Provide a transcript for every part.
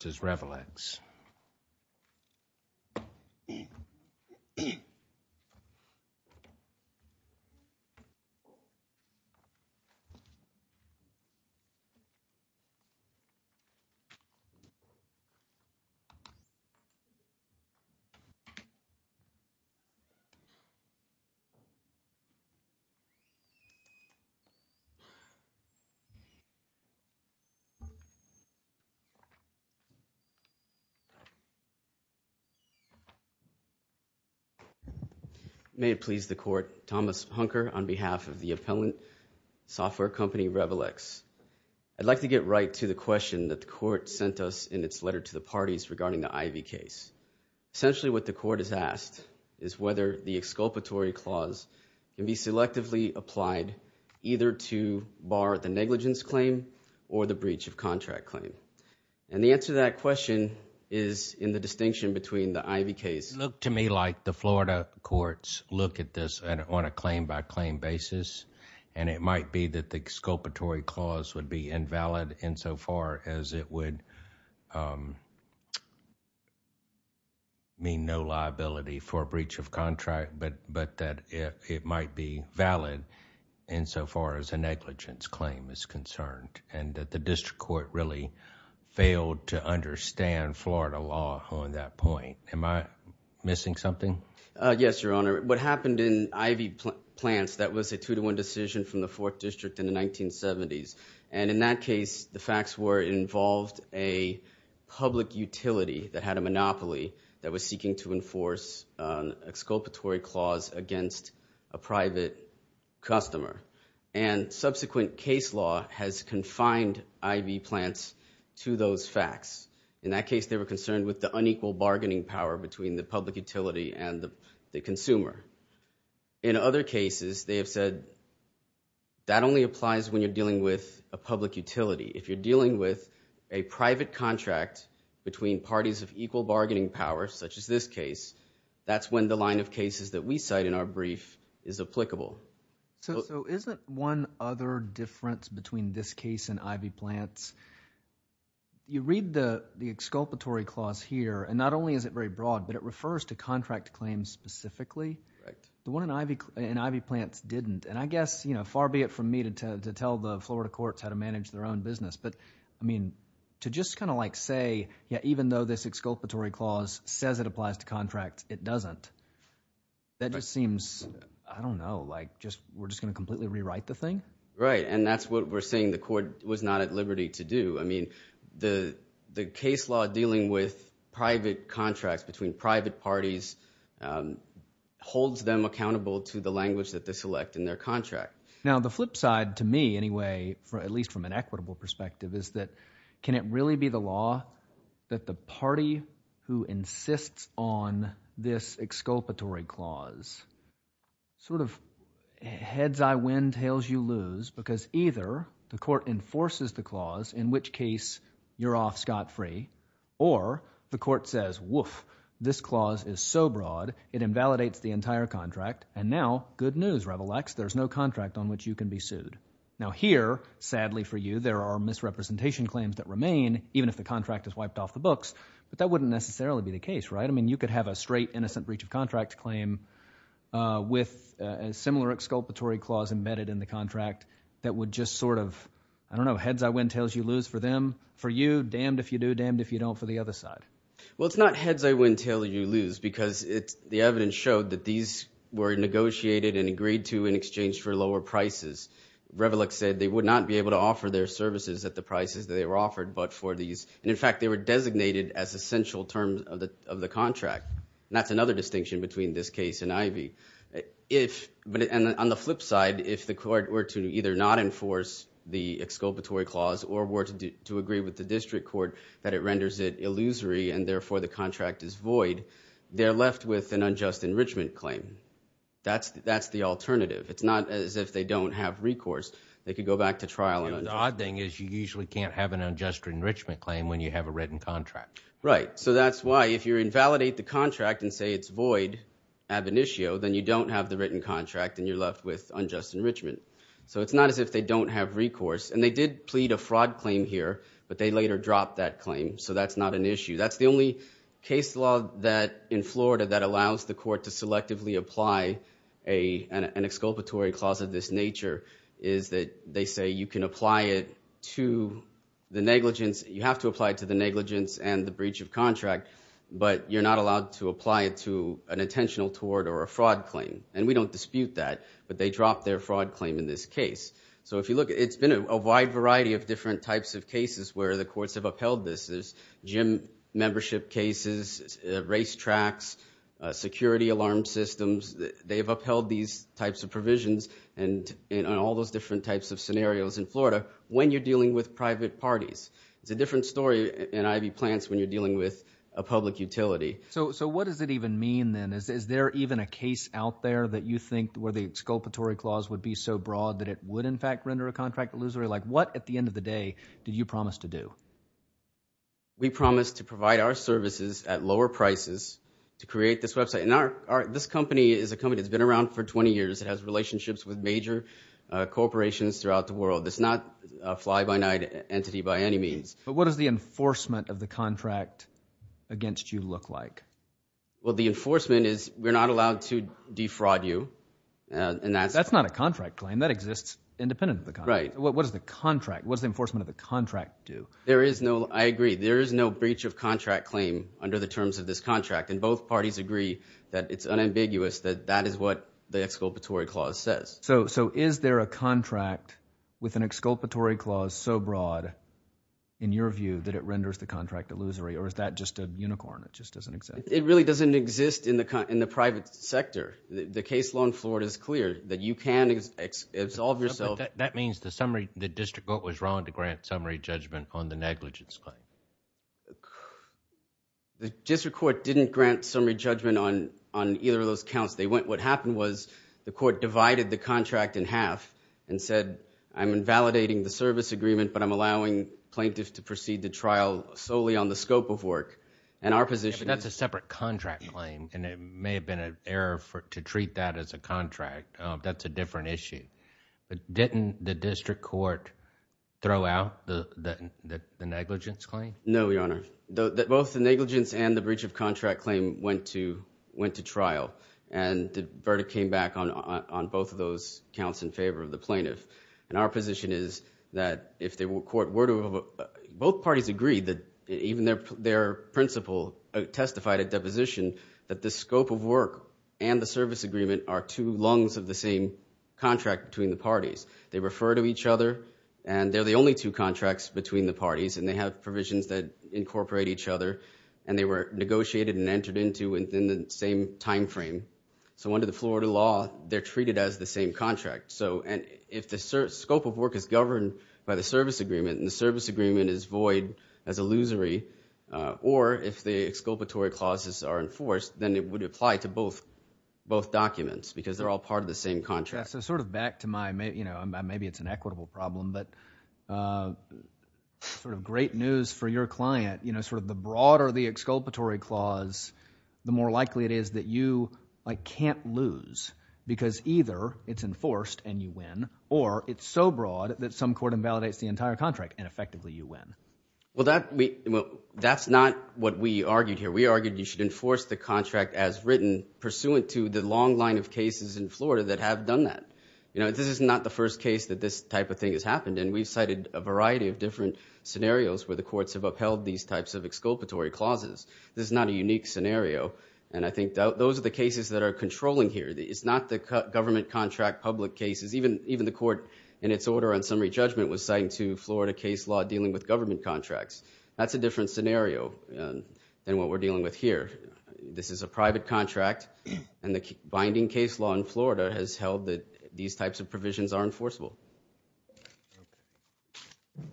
This is Revelex. May it please the Court, Thomas Hunker on behalf of the appellant software company Revelex. I'd like to get right to the question that the Court sent us in its letter to the parties regarding the Ivy case. Essentially what the Court has asked is whether the exculpatory clause can be selectively applied either to bar the negligence claim or the breach of contract claim. And the answer to that question is in the distinction between the Ivy case. It looked to me like the Florida courts look at this on a claim-by-claim basis, and it might be that the exculpatory clause would be invalid insofar as it would mean no liability for a breach of contract, but that it might be valid insofar as a negligence claim is concerned, and that the district court really failed to understand Florida law on that point. Am I missing something? Yes, Your Honor. What happened in Ivy Plants, that was a two-to-one decision from the Fourth District in the 1970s. And in that case, the facts were it involved a public utility that had a monopoly that was seeking to enforce an exculpatory clause against a private customer. And subsequent case law has confined Ivy Plants to those facts. In that case, they were concerned with the unequal bargaining power between the public utility and the consumer. In other cases, they have said that only applies when you're dealing with a public utility. If you're dealing with a private contract between parties of equal bargaining power, such as this case, that's when the line of cases that we cite in our brief is applicable. So isn't one other difference between this case and Ivy Plants? You read the exculpatory clause here, and not only is it very broad, but it refers to contract claims specifically. The one in Ivy Plants didn't. And I guess, you know, far be it from me to tell the Florida courts how to manage their own business, but, I mean, to just kind of like say, yeah, even though this exculpatory clause says it applies to contracts, it doesn't. That just seems, I don't know, like we're just going to completely rewrite the thing? Right, and that's what we're saying the court was not at liberty to do. I mean the case law dealing with private contracts between private parties holds them accountable to the language that they select in their contract. Now the flip side to me anyway, at least from an equitable perspective, is that can it really be the law that the party who insists on this exculpatory clause sort of heads I win, tails you lose? Because either the court enforces the clause, in which case you're off scot-free. Or the court says, woof, this clause is so broad it invalidates the entire contract. And now, good news, Revelax, there's no contract on which you can be sued. Now here, sadly for you, there are misrepresentation claims that remain even if the contract is wiped off the books. But that wouldn't necessarily be the case, right? I mean you could have a straight, innocent breach of contract claim with a similar exculpatory clause embedded in the contract that would just sort of, I don't know, heads I win, tails you lose for them, for you, damned if you do, damned if you don't for the other side. Well, it's not heads I win, tails you lose because the evidence showed that these were negotiated and agreed to in exchange for lower prices. Revelax said they would not be able to offer their services at the prices that they were offered but for these. And in fact, they were designated as essential terms of the contract. And that's another distinction between this case and Ivey. But on the flip side, if the court were to either not enforce the exculpatory clause or were to agree with the district court that it renders it illusory and therefore the contract is void, they're left with an unjust enrichment claim. That's the alternative. It's not as if they don't have recourse. They could go back to trial and unjust enrichment. The odd thing is you usually can't have an unjust enrichment claim when you have a written contract. Right. So that's why if you invalidate the contract and say it's void, ab initio, then you don't have the written contract and you're left with unjust enrichment. So it's not as if they don't have recourse. And they did plead a fraud claim here but they later dropped that claim. So that's not an issue. That's the only case law that in Florida that allows the court to selectively apply an exculpatory clause of this nature is that they say you can apply it to the negligence. You have to apply it to the negligence and the breach of contract, but you're not allowed to apply it to an intentional tort or a fraud claim. And we don't dispute that, but they dropped their fraud claim in this case. So if you look, it's been a wide variety of different types of cases where the courts have upheld this. There's gym membership cases, racetracks, security alarm systems. They've upheld these types of provisions and all those different types of scenarios in Florida when you're dealing with private parties. It's a different story in Ivy Plants when you're dealing with a public utility. So what does it even mean then? Is there even a case out there that you think where the exculpatory clause would be so broad that it would in fact render a contract illusory? What, at the end of the day, do you promise to do? We promise to provide our services at lower prices to create this website. And this company is a company that's been around for 20 years. It has relationships with major corporations throughout the world. It's not a fly-by-night entity by any means. But what does the enforcement of the contract against you look like? Well, the enforcement is we're not allowed to defraud you. That's not a contract claim. That exists independent of the contract. Right. What does the contract – what does the enforcement of the contract do? There is no – I agree. There is no breach of contract claim under the terms of this contract. And both parties agree that it's unambiguous that that is what the exculpatory clause says. So is there a contract with an exculpatory clause so broad in your view that it renders the contract illusory? Or is that just a unicorn? It just doesn't exist. It really doesn't exist in the private sector. The case law in Florida is clear that you can absolve yourself. That means the district court was wrong to grant summary judgment on the negligence claim. The district court didn't grant summary judgment on either of those counts. What happened was the court divided the contract in half and said, I'm invalidating the service agreement, but I'm allowing plaintiffs to proceed the trial solely on the scope of work. And our position is – That's a separate contract claim, and it may have been an error to treat that as a contract. That's a different issue. But didn't the district court throw out the negligence claim? No, Your Honor. Both the negligence and the breach of contract claim went to trial, and the verdict came back on both of those counts in favor of the plaintiff. And our position is that if the court were to – both parties agree that even their principal testified at deposition that the scope of work and the service agreement are two lungs of the same contract between the parties. They refer to each other, and they're the only two contracts between the parties, and they have provisions that incorporate each other, and they were negotiated and entered into within the same time frame. So under the Florida law, they're treated as the same contract. So if the scope of work is governed by the service agreement and the service agreement is void as illusory, or if the exculpatory clauses are enforced, then it would apply to both documents because they're all part of the same contract. So sort of back to my – maybe it's an equitable problem, but sort of great news for your client, sort of the broader the exculpatory clause, the more likely it is that you can't lose because either it's enforced and you win or it's so broad that some court invalidates the entire contract and effectively you win. Well, that's not what we argued here. We argued you should enforce the contract as written pursuant to the long line of cases in Florida that have done that. This is not the first case that this type of thing has happened, and we've cited a variety of different scenarios where the courts have upheld these types of exculpatory clauses. This is not a unique scenario, and I think those are the cases that are controlling here. It's not the government contract public cases. Even the court in its order on summary judgment was citing to Florida case law dealing with government contracts. That's a different scenario than what we're dealing with here. This is a private contract, and the binding case law in Florida has held that these types of provisions are enforceable.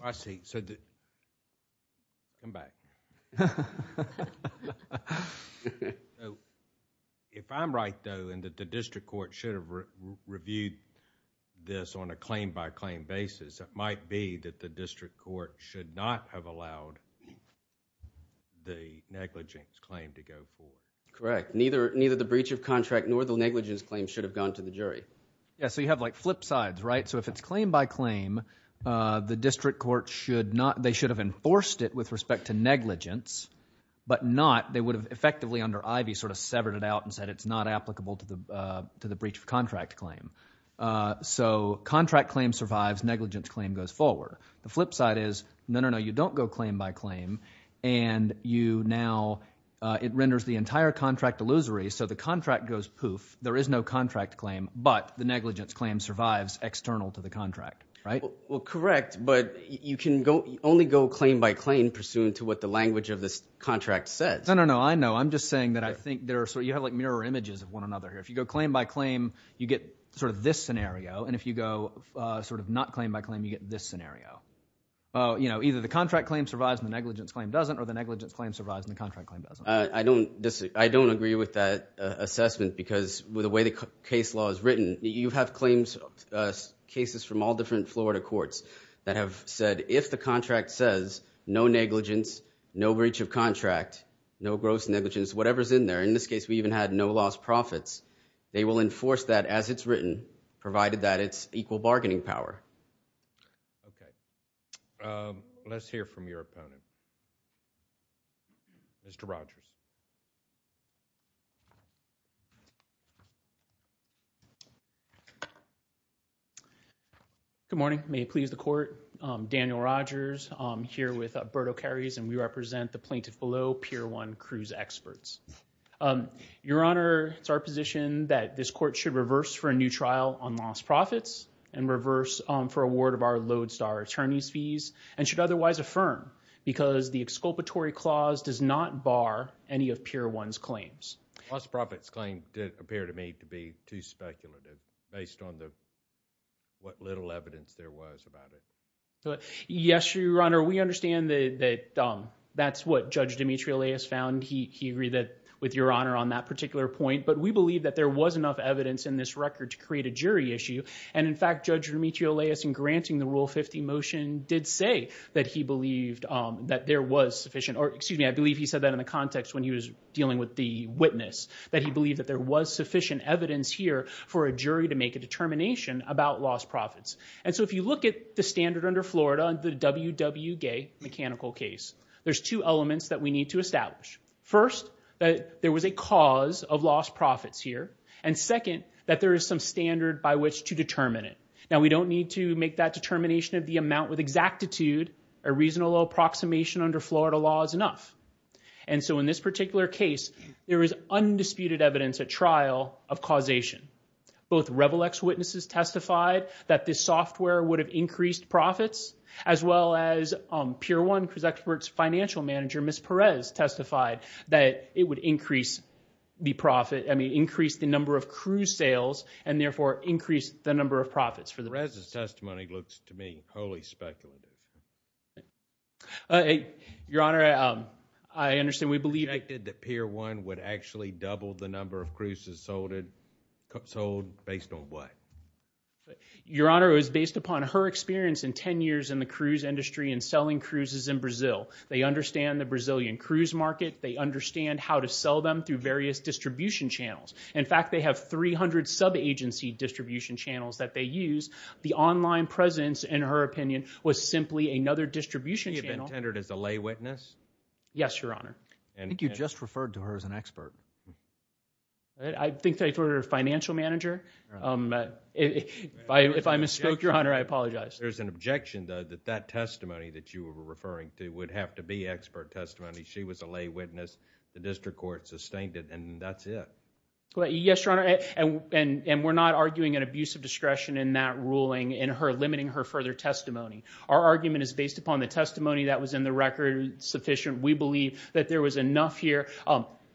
I see. Come back. If I'm right, though, and that the district court should have reviewed this on a claim-by-claim basis, it might be that the district court should not have allowed the negligence claim to go forward. Correct. Neither the breach of contract nor the negligence claim should have gone to the jury. Yeah, so you have like flip sides, right? So if it's claim-by-claim, the district court should not— they should have enforced it with respect to negligence, but not they would have effectively under Ivey sort of severed it out and said it's not applicable to the breach of contract claim. So contract claim survives, negligence claim goes forward. The flip side is, no, no, no, you don't go claim-by-claim, and you now—it renders the entire contract illusory, so the contract goes poof. There is no contract claim, but the negligence claim survives external to the contract, right? Well, correct, but you can only go claim-by-claim pursuant to what the language of this contract says. No, no, no, I know. I'm just saying that I think there are— so you have like mirror images of one another here. If you go claim-by-claim, you get sort of this scenario, and if you go sort of not claim-by-claim, you get this scenario. You know, either the contract claim survives and the negligence claim doesn't, or the negligence claim survives and the contract claim doesn't. I don't agree with that assessment because with the way the case law is written, you have claims—cases from all different Florida courts that have said if the contract says no negligence, no breach of contract, no gross negligence, whatever is in there. In this case, we even had no lost profits. They will enforce that as it's written, provided that it's equal bargaining power. Okay. Let's hear from your opponent. Mr. Rogers. Good morning. May it please the Court. Daniel Rogers. I'm here with Alberto Carries, and we represent the plaintiff below, Pier 1 Cruz Experts. Your Honor, it's our position that this Court should reverse for a new trial on lost profits and reverse for award of our Lodestar attorney's fees and should otherwise affirm because the exculpatory clause does not bar any of Pier 1's claims. Lost profits claim did appear to me to be too speculative based on what little evidence there was about it. Yes, Your Honor. We understand that that's what Judge Demetrio-Leyes found. He agreed with Your Honor on that particular point, but we believe that there was enough evidence in this record to create a jury issue, and in fact, Judge Demetrio-Leyes, in granting the Rule 50 motion, did say that he believed that there was sufficient, or excuse me, I believe he said that in the context when he was dealing with the witness, that he believed that there was sufficient evidence here for a jury to make a determination about lost profits. And so if you look at the standard under Florida, under the WWGAY mechanical case, there's two elements that we need to establish. First, that there was a cause of lost profits here, and second, that there is some standard by which to determine it. Now, we don't need to make that determination of the amount with exactitude. A reasonable approximation under Florida law is enough. And so in this particular case, there is undisputed evidence at trial of causation. Both Revolex witnesses testified that this software would have increased profits, as well as Pier 1, Cruise Expert's financial manager, Ms. Perez, testified that it would increase the profit, I mean, increase the number of cruise sales, and therefore increase the number of profits. Perez's testimony looks to me wholly speculative. Your Honor, I understand. We believe... ...that Pier 1 would actually double the number of cruises sold based on what? Your Honor, it was based upon her experience in 10 years in the cruise industry and selling cruises in Brazil. They understand the Brazilian cruise market. They understand how to sell them through various distribution channels. In fact, they have 300 sub-agency distribution channels that they use. The online presence, in her opinion, was simply another distribution channel. You've been tendered as a lay witness? Yes, Your Honor. I think you just referred to her as an expert. I think that if it were a financial manager, if I misspoke, Your Honor, I apologize. There's an objection, though, that that testimony that you were referring to would have to be expert testimony. She was a lay witness. The district court sustained it, and that's it. Yes, Your Honor, and we're not arguing an abuse of discretion in that ruling in her limiting her further testimony. Our argument is based upon the testimony that was in the record sufficient. We believe that there was enough here.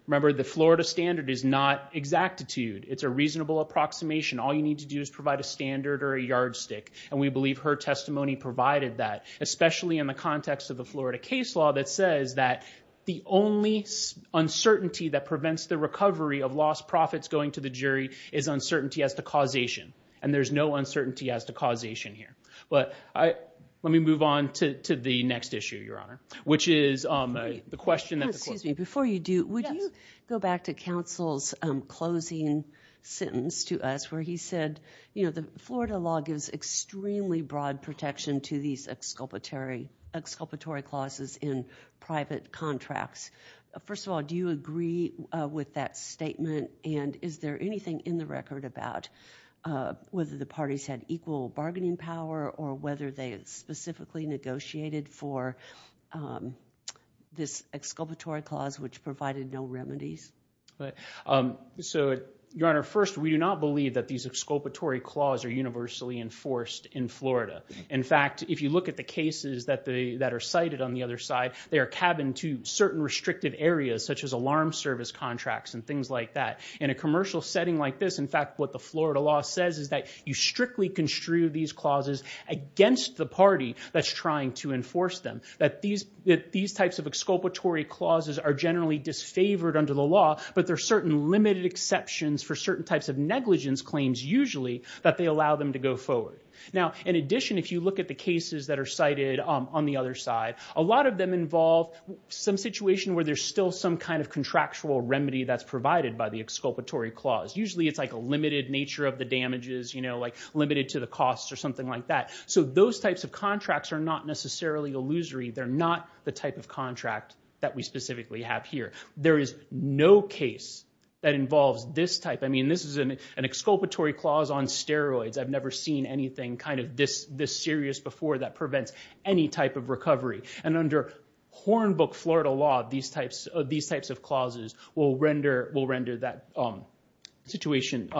Remember, the Florida standard is not exactitude. It's a reasonable approximation. All you need to do is provide a standard or a yardstick, and we believe her testimony provided that, especially in the context of the Florida case law that says that the only uncertainty that prevents the recovery of lost profits going to the jury is uncertainty as to causation, and there's no uncertainty as to causation here. But let me move on to the next issue, Your Honor, which is the question that the court... Excuse me. Before you do, would you go back to counsel's closing sentence to us where he said, you know, the Florida law gives extremely broad protection to these exculpatory clauses in private contracts. First of all, do you agree with that statement, and is there anything in the record about whether the parties had equal bargaining power or whether they specifically negotiated for this exculpatory clause which provided no remedies? So, Your Honor, first, we do not believe that these exculpatory clause are universally enforced in Florida. In fact, if you look at the cases that are cited on the other side, they are cabined to certain restrictive areas such as alarm service contracts and things like that. In a commercial setting like this, in fact, what the Florida law says is that you strictly construe these clauses against the party that's trying to enforce them, that these types of exculpatory clauses are generally disfavored under the law, but there are certain limited exceptions for certain types of negligence claims usually that they allow them to go forward. Now, in addition, if you look at the cases that are cited on the other side, a lot of them involve some situation where there's still some kind of contractual remedy that's provided by the exculpatory clause. Usually it's like a limited nature of the damages, you know, like limited to the costs or something like that. So those types of contracts are not necessarily illusory. They're not the type of contract that we specifically have here. There is no case that involves this type. I mean, this is an exculpatory clause on steroids. I've never seen anything kind of this serious before that prevents any type of recovery. And under hornbook Florida law, these types of clauses will render that situation...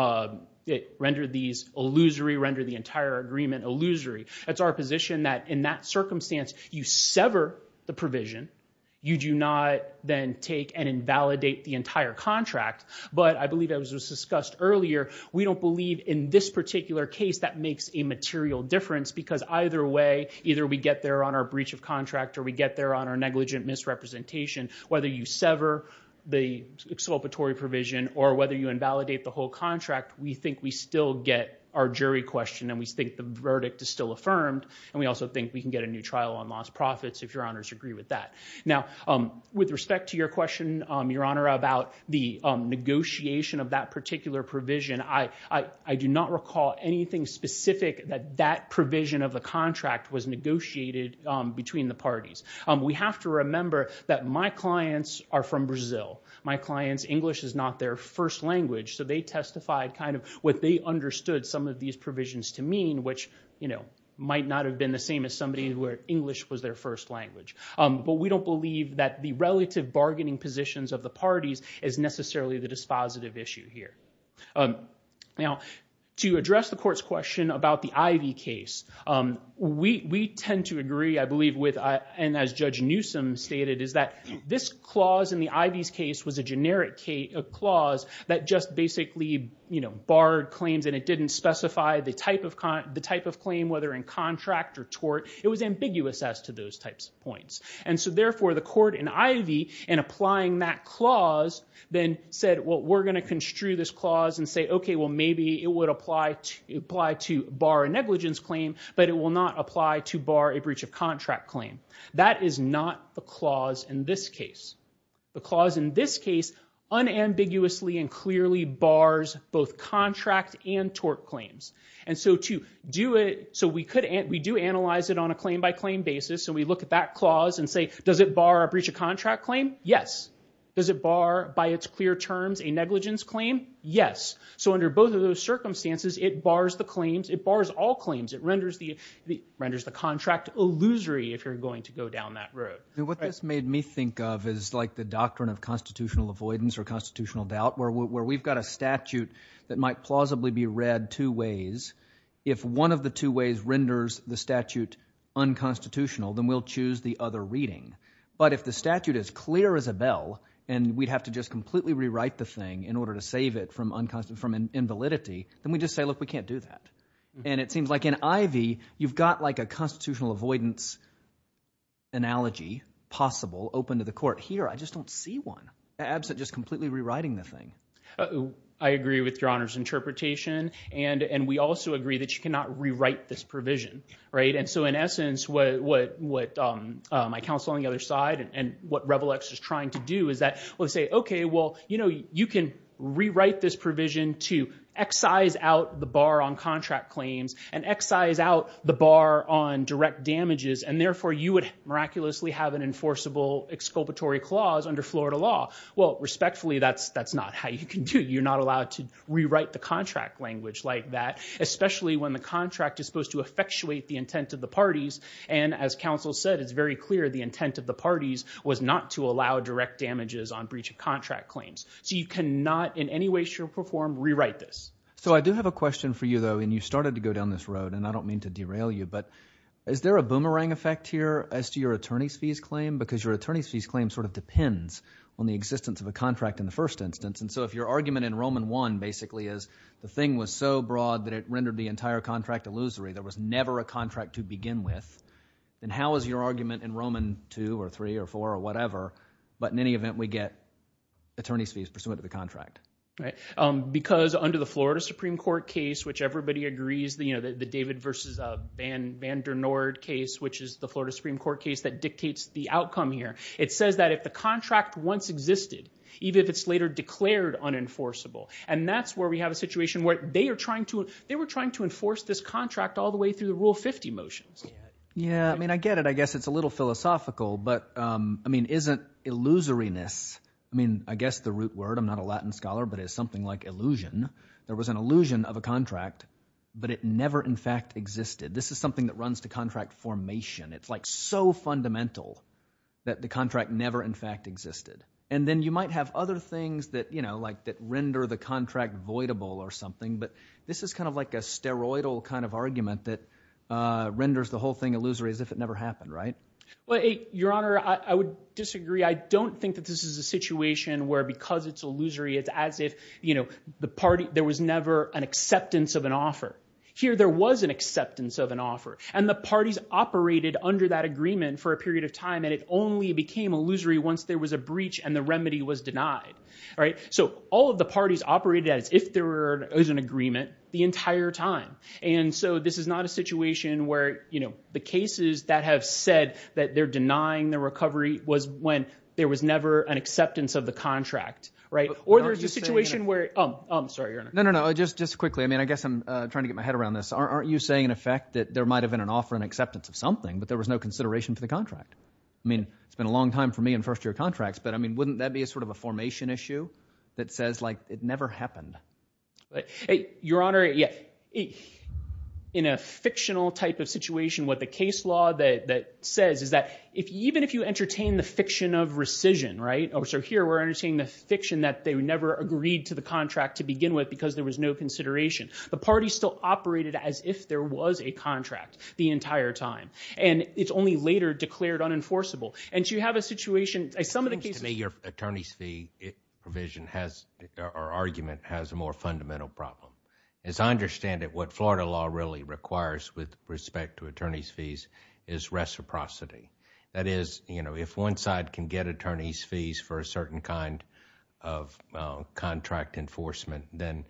render these illusory, render the entire agreement illusory. It's our position that in that circumstance, you sever the provision. You do not then take and invalidate the entire contract. But I believe, as was discussed earlier, we don't believe in this particular case that makes a material difference because either way, either we get there on our breach of contract or we get there on our negligent misrepresentation. Whether you sever the exculpatory provision or whether you invalidate the whole contract, we think we still get our jury question and we think the verdict is still affirmed and we also think we can get a new trial on lost profits if your honors agree with that. Now, with respect to your question, your honor, about the negotiation of that particular provision, I do not recall anything specific that that provision of the contract was negotiated between the parties. We have to remember that my clients are from Brazil. My clients' English is not their first language, so they testified kind of what they understood some of these provisions to mean, which might not have been the same as somebody where English was their first language. But we don't believe that the relative bargaining positions of the parties is necessarily the dispositive issue here. Now, to address the court's question about the Ivey case, we tend to agree, I believe, and as Judge Newsom stated, is that this clause in the Ivey's case was a generic clause that just basically barred claims and it didn't specify the type of claim, whether in contract or tort. It was ambiguous as to those types of points. And so therefore, the court in Ivey, in applying that clause, then said, well, we're going to construe this clause and say, okay, well, maybe it would apply to bar a negligence claim, but it will not apply to bar a breach of contract claim. That is not the clause in this case. The clause in this case unambiguously and clearly bars both contract and tort claims. And so we do analyze it on a claim-by-claim basis, and we look at that clause and say, does it bar a breach of contract claim? Yes. Does it bar, by its clear terms, a negligence claim? Yes. So under both of those circumstances, it bars the claims, it bars all claims. It renders the contract illusory if you're going to go down that road. What this made me think of is like the doctrine of constitutional avoidance or constitutional doubt, where we've got a statute that might plausibly be read two ways. If one of the two ways renders the statute unconstitutional, then we'll choose the other reading. But if the statute is clear as a bell and we'd have to just completely rewrite the thing in order to save it from invalidity, then we just say, look, we can't do that. And it seems like in Ivey, you've got like a constitutional avoidance analogy possible open to the court. Here, I just don't see one. Absent just completely rewriting the thing. I agree with Your Honor's interpretation. And we also agree that you cannot rewrite this provision. And so in essence, what my counsel on the other side and what Revolex is trying to do is that we'll say, okay, well, you know, you can rewrite this provision to excise out the bar on contract claims and excise out the bar on direct damages, and therefore you would miraculously have an enforceable exculpatory clause under Florida law. Well, respectfully, that's not how you can do it. You're not allowed to rewrite the contract language like that, especially when the contract is supposed to effectuate the intent of the parties. And as counsel said, it's very clear the intent of the parties was not to allow direct damages on breach of contract claims. So you cannot in any way, shape, or form rewrite this. So I do have a question for you, though, and you started to go down this road, and I don't mean to derail you, but is there a boomerang effect here as to your attorney's fees claim? Because your attorney's fees claim sort of depends on the existence of a contract in the first instance. And so if your argument in Roman I, basically, is the thing was so broad that it rendered the entire contract illusory, there was never a contract to begin with, then how is your argument in Roman II or III or IV or whatever, but in any event, we get attorney's fees pursuant to the contract? Right. Because under the Florida Supreme Court case, which everybody agrees, you know, the David versus Van Der Noord case, which is the Florida Supreme Court case that dictates the outcome here, it says that if the contract once existed, even if it's later declared unenforceable, and that's where we have a situation where they are trying to – they were trying to enforce this contract all the way through the Rule 50 motions. Yeah, I mean I get it. I guess it's a little philosophical, but isn't illusoriness – I mean I guess the root word. I'm not a Latin scholar, but it's something like illusion. There was an illusion of a contract, but it never in fact existed. This is something that runs to contract formation. It's like so fundamental that the contract never in fact existed. And then you might have other things that, you know, like that render the contract voidable or something, but this is kind of like a steroidal kind of argument that renders the whole thing illusory as if it never happened, right? Well, Your Honor, I would disagree. I don't think that this is a situation where because it's illusory, it's as if the party – there was never an acceptance of an offer. Here there was an acceptance of an offer, and the parties operated under that agreement for a period of time, and it only became illusory once there was a breach and the remedy was denied, right? So all of the parties operated as if there was an agreement the entire time. And so this is not a situation where the cases that have said that they're denying the recovery was when there was never an acceptance of the contract, right? Or there's a situation where – oh, I'm sorry, Your Honor. No, no, no, just quickly. I mean I guess I'm trying to get my head around this. Aren't you saying in effect that there might have been an offer and acceptance of something, but there was no consideration for the contract? I mean it's been a long time for me in first-year contracts, but I mean wouldn't that be sort of a formation issue that says like it never happened? Your Honor, yeah. In a fictional type of situation, what the case law that says is that even if you entertain the fiction of rescission, right? So here we're entertaining the fiction that they never agreed to the contract to begin with because there was no consideration. The party still operated as if there was a contract the entire time, and it's only later declared unenforceable. And you have a situation – some of the cases – It seems to me your attorney's fee provision has – or argument has a more fundamental problem. As I understand it, what Florida law really requires with respect to attorney's fees is reciprocity. That is, you know, if one side can get attorney's fees for a certain kind of contract enforcement, then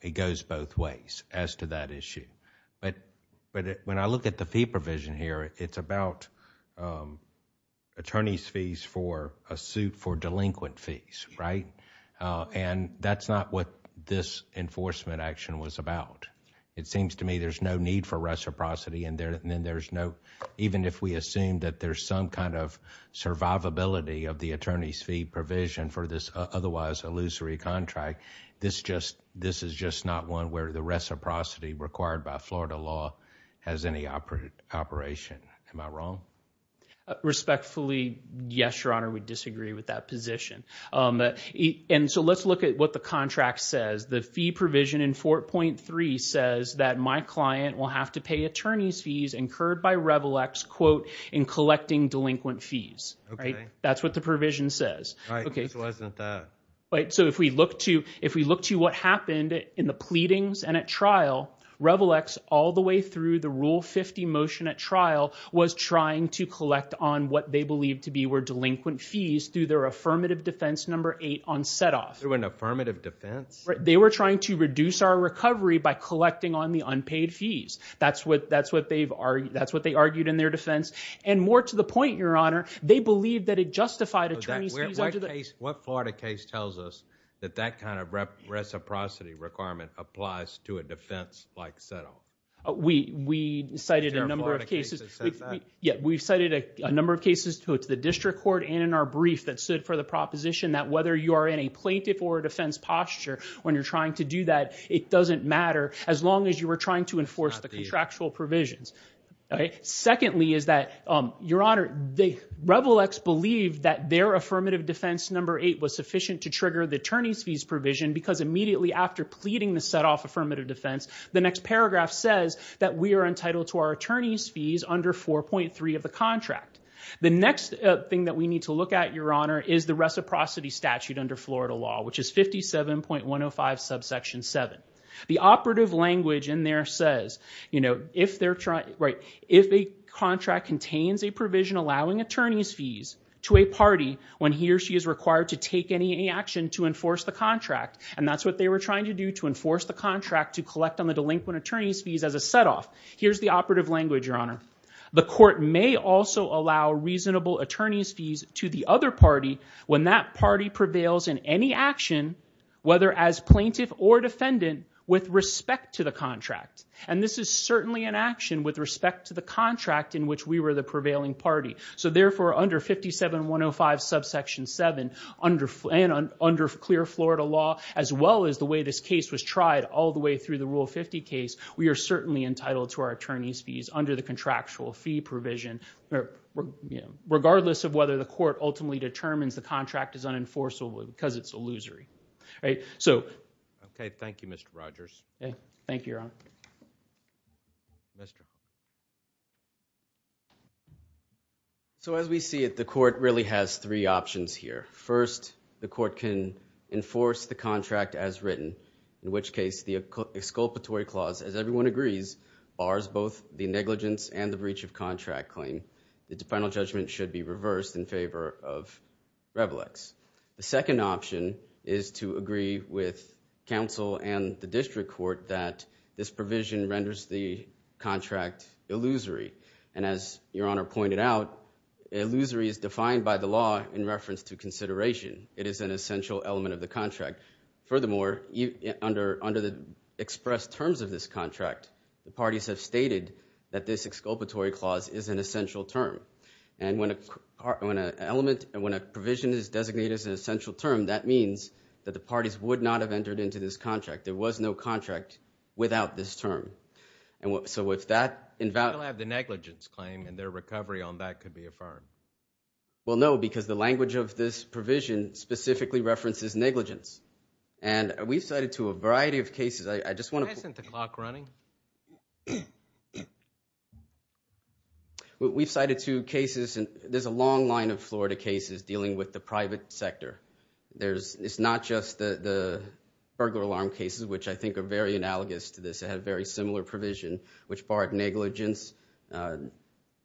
it goes both ways as to that issue. But when I look at the fee provision here, it's about attorney's fees for a suit for delinquent fees, right? And that's not what this enforcement action was about. It seems to me there's no need for reciprocity, and then there's no – even if we assume that there's some kind of survivability of the attorney's fee provision for this otherwise illusory contract, this is just not one where the reciprocity required by Florida law has any operation. Am I wrong? Respectfully, yes, Your Honor. We disagree with that position. And so let's look at what the contract says. The fee provision in 4.3 says that my client will have to pay attorney's fees incurred by Revilex, quote, in collecting delinquent fees. Okay. That's what the provision says. Right. This wasn't that. So if we look to what happened in the pleadings and at trial, Revilex all the way through the Rule 50 motion at trial was trying to collect on what they believed to be delinquent fees through their affirmative defense number 8 on set-off. Through an affirmative defense? They were trying to reduce our recovery by collecting on the unpaid fees. That's what they argued in their defense. And more to the point, Your Honor, they believed that it justified attorney's fees. What Florida case tells us that that kind of reciprocity requirement applies to a defense like set-off? We cited a number of cases. We cited a number of cases to the district court and in our brief that stood for the proposition that whether you are in a plaintiff or a defense posture when you're trying to do that, it doesn't matter as long as you were trying to enforce the contractual provisions. Secondly is that, Your Honor, Revilex believed that their affirmative defense number 8 was sufficient to trigger the attorney's fees provision because immediately after pleading the set-off affirmative defense, the next paragraph says that we are entitled to our attorney's fees under 4.3 of the contract. The next thing that we need to look at, Your Honor, is the reciprocity statute under Florida law, which is 57.105 subsection 7. The operative language in there says, if a contract contains a provision allowing attorney's fees to a party when he or she is required to take any action to enforce the contract, and that's what they were trying to do to enforce the contract to collect on the delinquent attorney's fees as a set-off. Here's the operative language, Your Honor. The court may also allow reasonable attorney's fees to the other party when that party prevails in any action, whether as plaintiff or defendant, with respect to the contract. And this is certainly an action with respect to the contract in which we were the prevailing party. So therefore, under 57.105 subsection 7, and under clear Florida law, as well as the way this case was tried all the way through the Rule 50 case, we are certainly entitled to our attorney's fees under the contractual fee provision, regardless of whether the court ultimately determines the contract is unenforceable because it's illusory. Okay, thank you, Mr. Rogers. Thank you, Your Honor. So as we see it, the court really has three options here. First, the court can enforce the contract as written, in which case the exculpatory clause, as everyone agrees, bars both the negligence and the breach of contract claim. The final judgment should be reversed in favor of revolux. The second option is to agree with counsel and the district court that this provision renders the contract illusory. And as Your Honor pointed out, illusory is defined by the law in reference to consideration. It is an essential element of the contract. Furthermore, under the expressed terms of this contract, the parties have stated that this exculpatory clause is an essential term. And when a provision is designated as an essential term, that means that the parties would not have entered into this contract. There was no contract without this term. So if that invalidates... They'll have the negligence claim, and their recovery on that could be affirmed. Well, no, because the language of this provision specifically references negligence. And we've cited to a variety of cases. I just want to... Why isn't the clock running? We've cited two cases, and there's a long line of Florida cases dealing with the private sector. It's not just the burglar alarm cases, which I think are very analogous to this. It had a very similar provision, which barred negligence,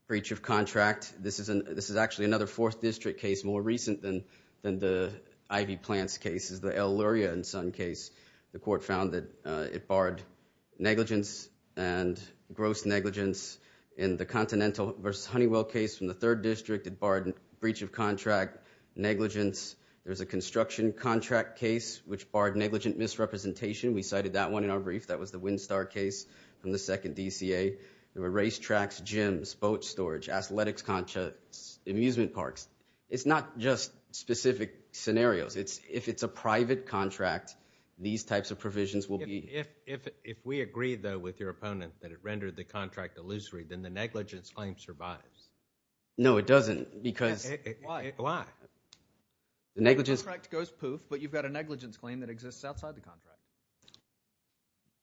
breach of contract. This is actually another 4th District case, more recent than the Ivy Plants cases, the El Luria and Sun case. The court found that it barred negligence and gross negligence in the Continental v. Honeywell case from the 3rd District. It barred breach of contract, negligence. There was a construction contract case which barred negligent misrepresentation. We cited that one in our brief. That was the Windstar case from the 2nd DCA. There were racetracks, gyms, boat storage, athletics contracts, amusement parks. It's not just specific scenarios. If it's a private contract, these types of provisions will be... If we agree, though, with your opponent that it rendered the contract illusory, then the negligence claim survives. No, it doesn't, because... Why? The contract goes poof, but you've got a negligence claim that exists outside the contract.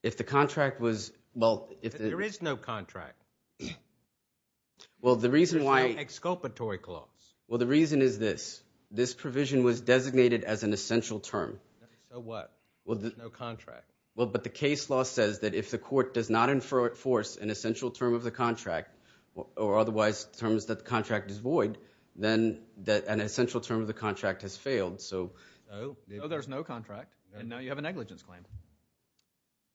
If the contract was... There is no contract. There's no exculpatory clause. The reason is this. This provision was designated as an essential term. So what? There's no contract. Well, but the case law says that if the court does not enforce an essential term of the contract, or otherwise determines that the contract is void, then an essential term of the contract has failed, so... No, there's no contract, and now you have a negligence claim.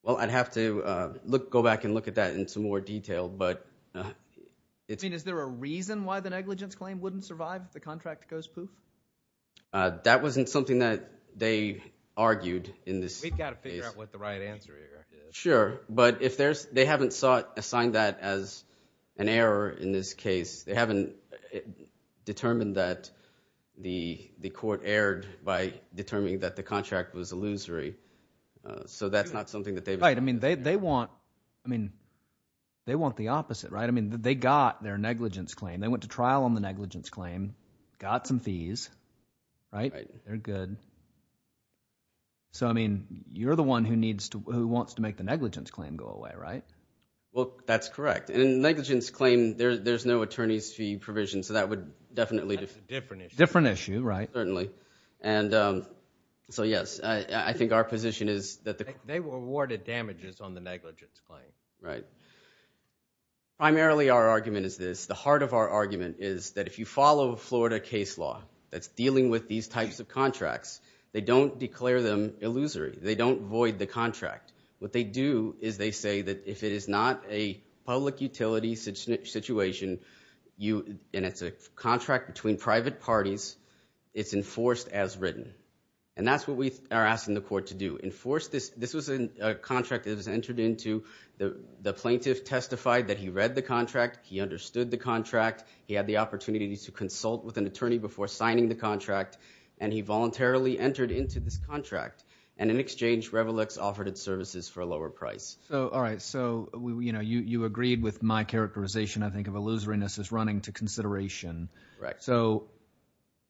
Well, I'd have to go back and look at that in some more detail, but... I mean, is there a reason why the negligence claim wouldn't survive if the contract goes poof? That wasn't something that they argued in this case. We've got to figure out what the right answer is. Sure, but they haven't assigned that as an error in this case. They haven't determined that the court erred by determining that the contract was illusory. So that's not something that they've... Right, I mean, they want the opposite, right? I mean, they got their negligence claim. They went to trial on the negligence claim, got some fees, right? They're good. So, I mean, you're the one who wants to make the negligence claim go away, right? Well, that's correct. In a negligence claim, there's no attorney's fee provision, so that would definitely... That's a different issue. Different issue, right. Certainly. And so, yes, I think our position is that... They were awarded damages on the negligence claim. Right. Primarily, our argument is this. The heart of our argument is that if you follow Florida case law that's dealing with these types of contracts, they don't declare them illusory. They don't void the contract. What they do is they say that if it is not a public utility situation, and it's a contract between private parties, it's enforced as written. And that's what we are asking the court to do. Enforce this. This was a contract that was entered into. The plaintiff testified that he read the contract, he understood the contract, he had the opportunity to consult with an attorney before signing the contract, and he voluntarily entered into this contract. And in exchange, Revolux offered its services for a lower price. All right. So you agreed with my characterization, I think, of illusoriness as running to consideration. Correct. So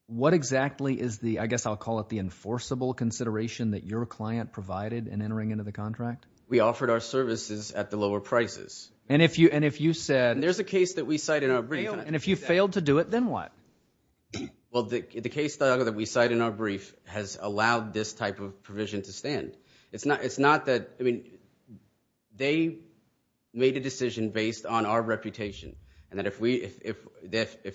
what exactly is the, I guess I'll call it, the enforceable consideration that your client provided in entering into the contract? We offered our services at the lower prices. And if you said... And there's a case that we cite in our brief. And if you failed to do it, then what? Well, the case that we cite in our brief has allowed this type of provision to stand. It's not that, I mean, they made a decision based on our reputation and that if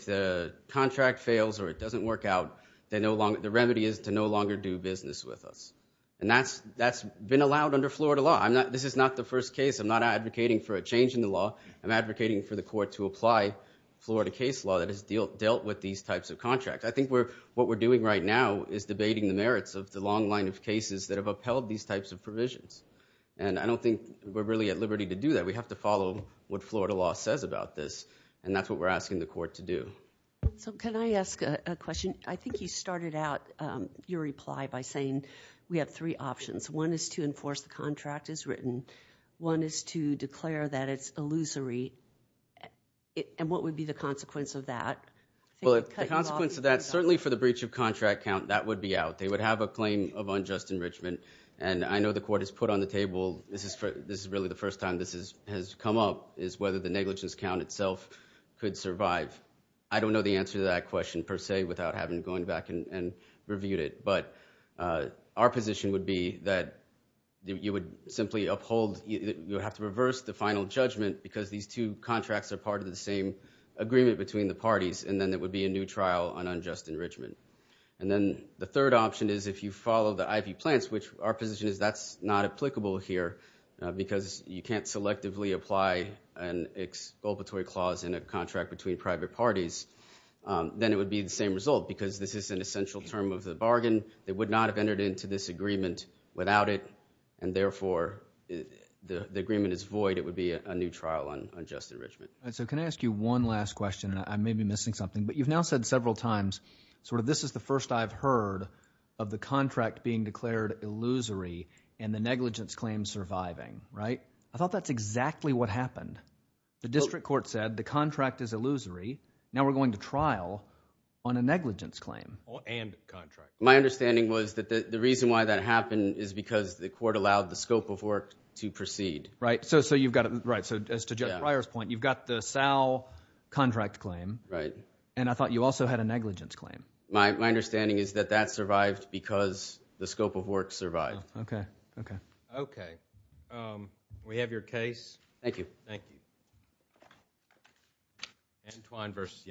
the contract fails or it doesn't work out, the remedy is to no longer do business with us. And that's been allowed under Florida law. This is not the first case. I'm not advocating for a change in the law. I'm advocating for the court to apply Florida case law that has dealt with these types of contracts. I think what we're doing right now is debating the merits of the long line of cases that have upheld these types of provisions. And I don't think we're really at liberty to do that. We have to follow what Florida law says about this. And that's what we're asking the court to do. So can I ask a question? I think you started out your reply by saying we have three options. One is to enforce the contract as written. One is to declare that it's illusory. And what would be the consequence of that? Well, the consequence of that, certainly for the breach of contract count, that would be out. They would have a claim of unjust enrichment. And I know the court has put on the table, this is really the first time this has come up, is whether the negligence count itself could survive. I don't know the answer to that question per se without having going back and reviewed it. But our position would be that you would have to reverse the final judgment because these two contracts are part of the same agreement between the parties, and then there would be a new trial on unjust enrichment. And then the third option is if you follow the IV plants, which our position is that's not applicable here because you can't selectively apply an expulpatory clause in a contract between private parties, then it would be the same result because this is an essential term of the bargain. They would not have entered into this agreement without it, and therefore the agreement is void. It would be a new trial on unjust enrichment. All right, so can I ask you one last question? I may be missing something, but you've now said several times, sort of, this is the first I've heard of the contract being declared illusory and the negligence claim surviving, right? I thought that's exactly what happened. The district court said the contract is illusory. Now we're going to trial on a negligence claim. My understanding was that the reason why that happened is because the court allowed the scope of work to proceed. Right, so as to Judge Breyer's point, you've got the Sal contract claim, and I thought you also had a negligence claim. My understanding is that that survived because the scope of work survived. Okay, okay. Okay, we have your case. Thank you. Thank you. Antwine versus the United States.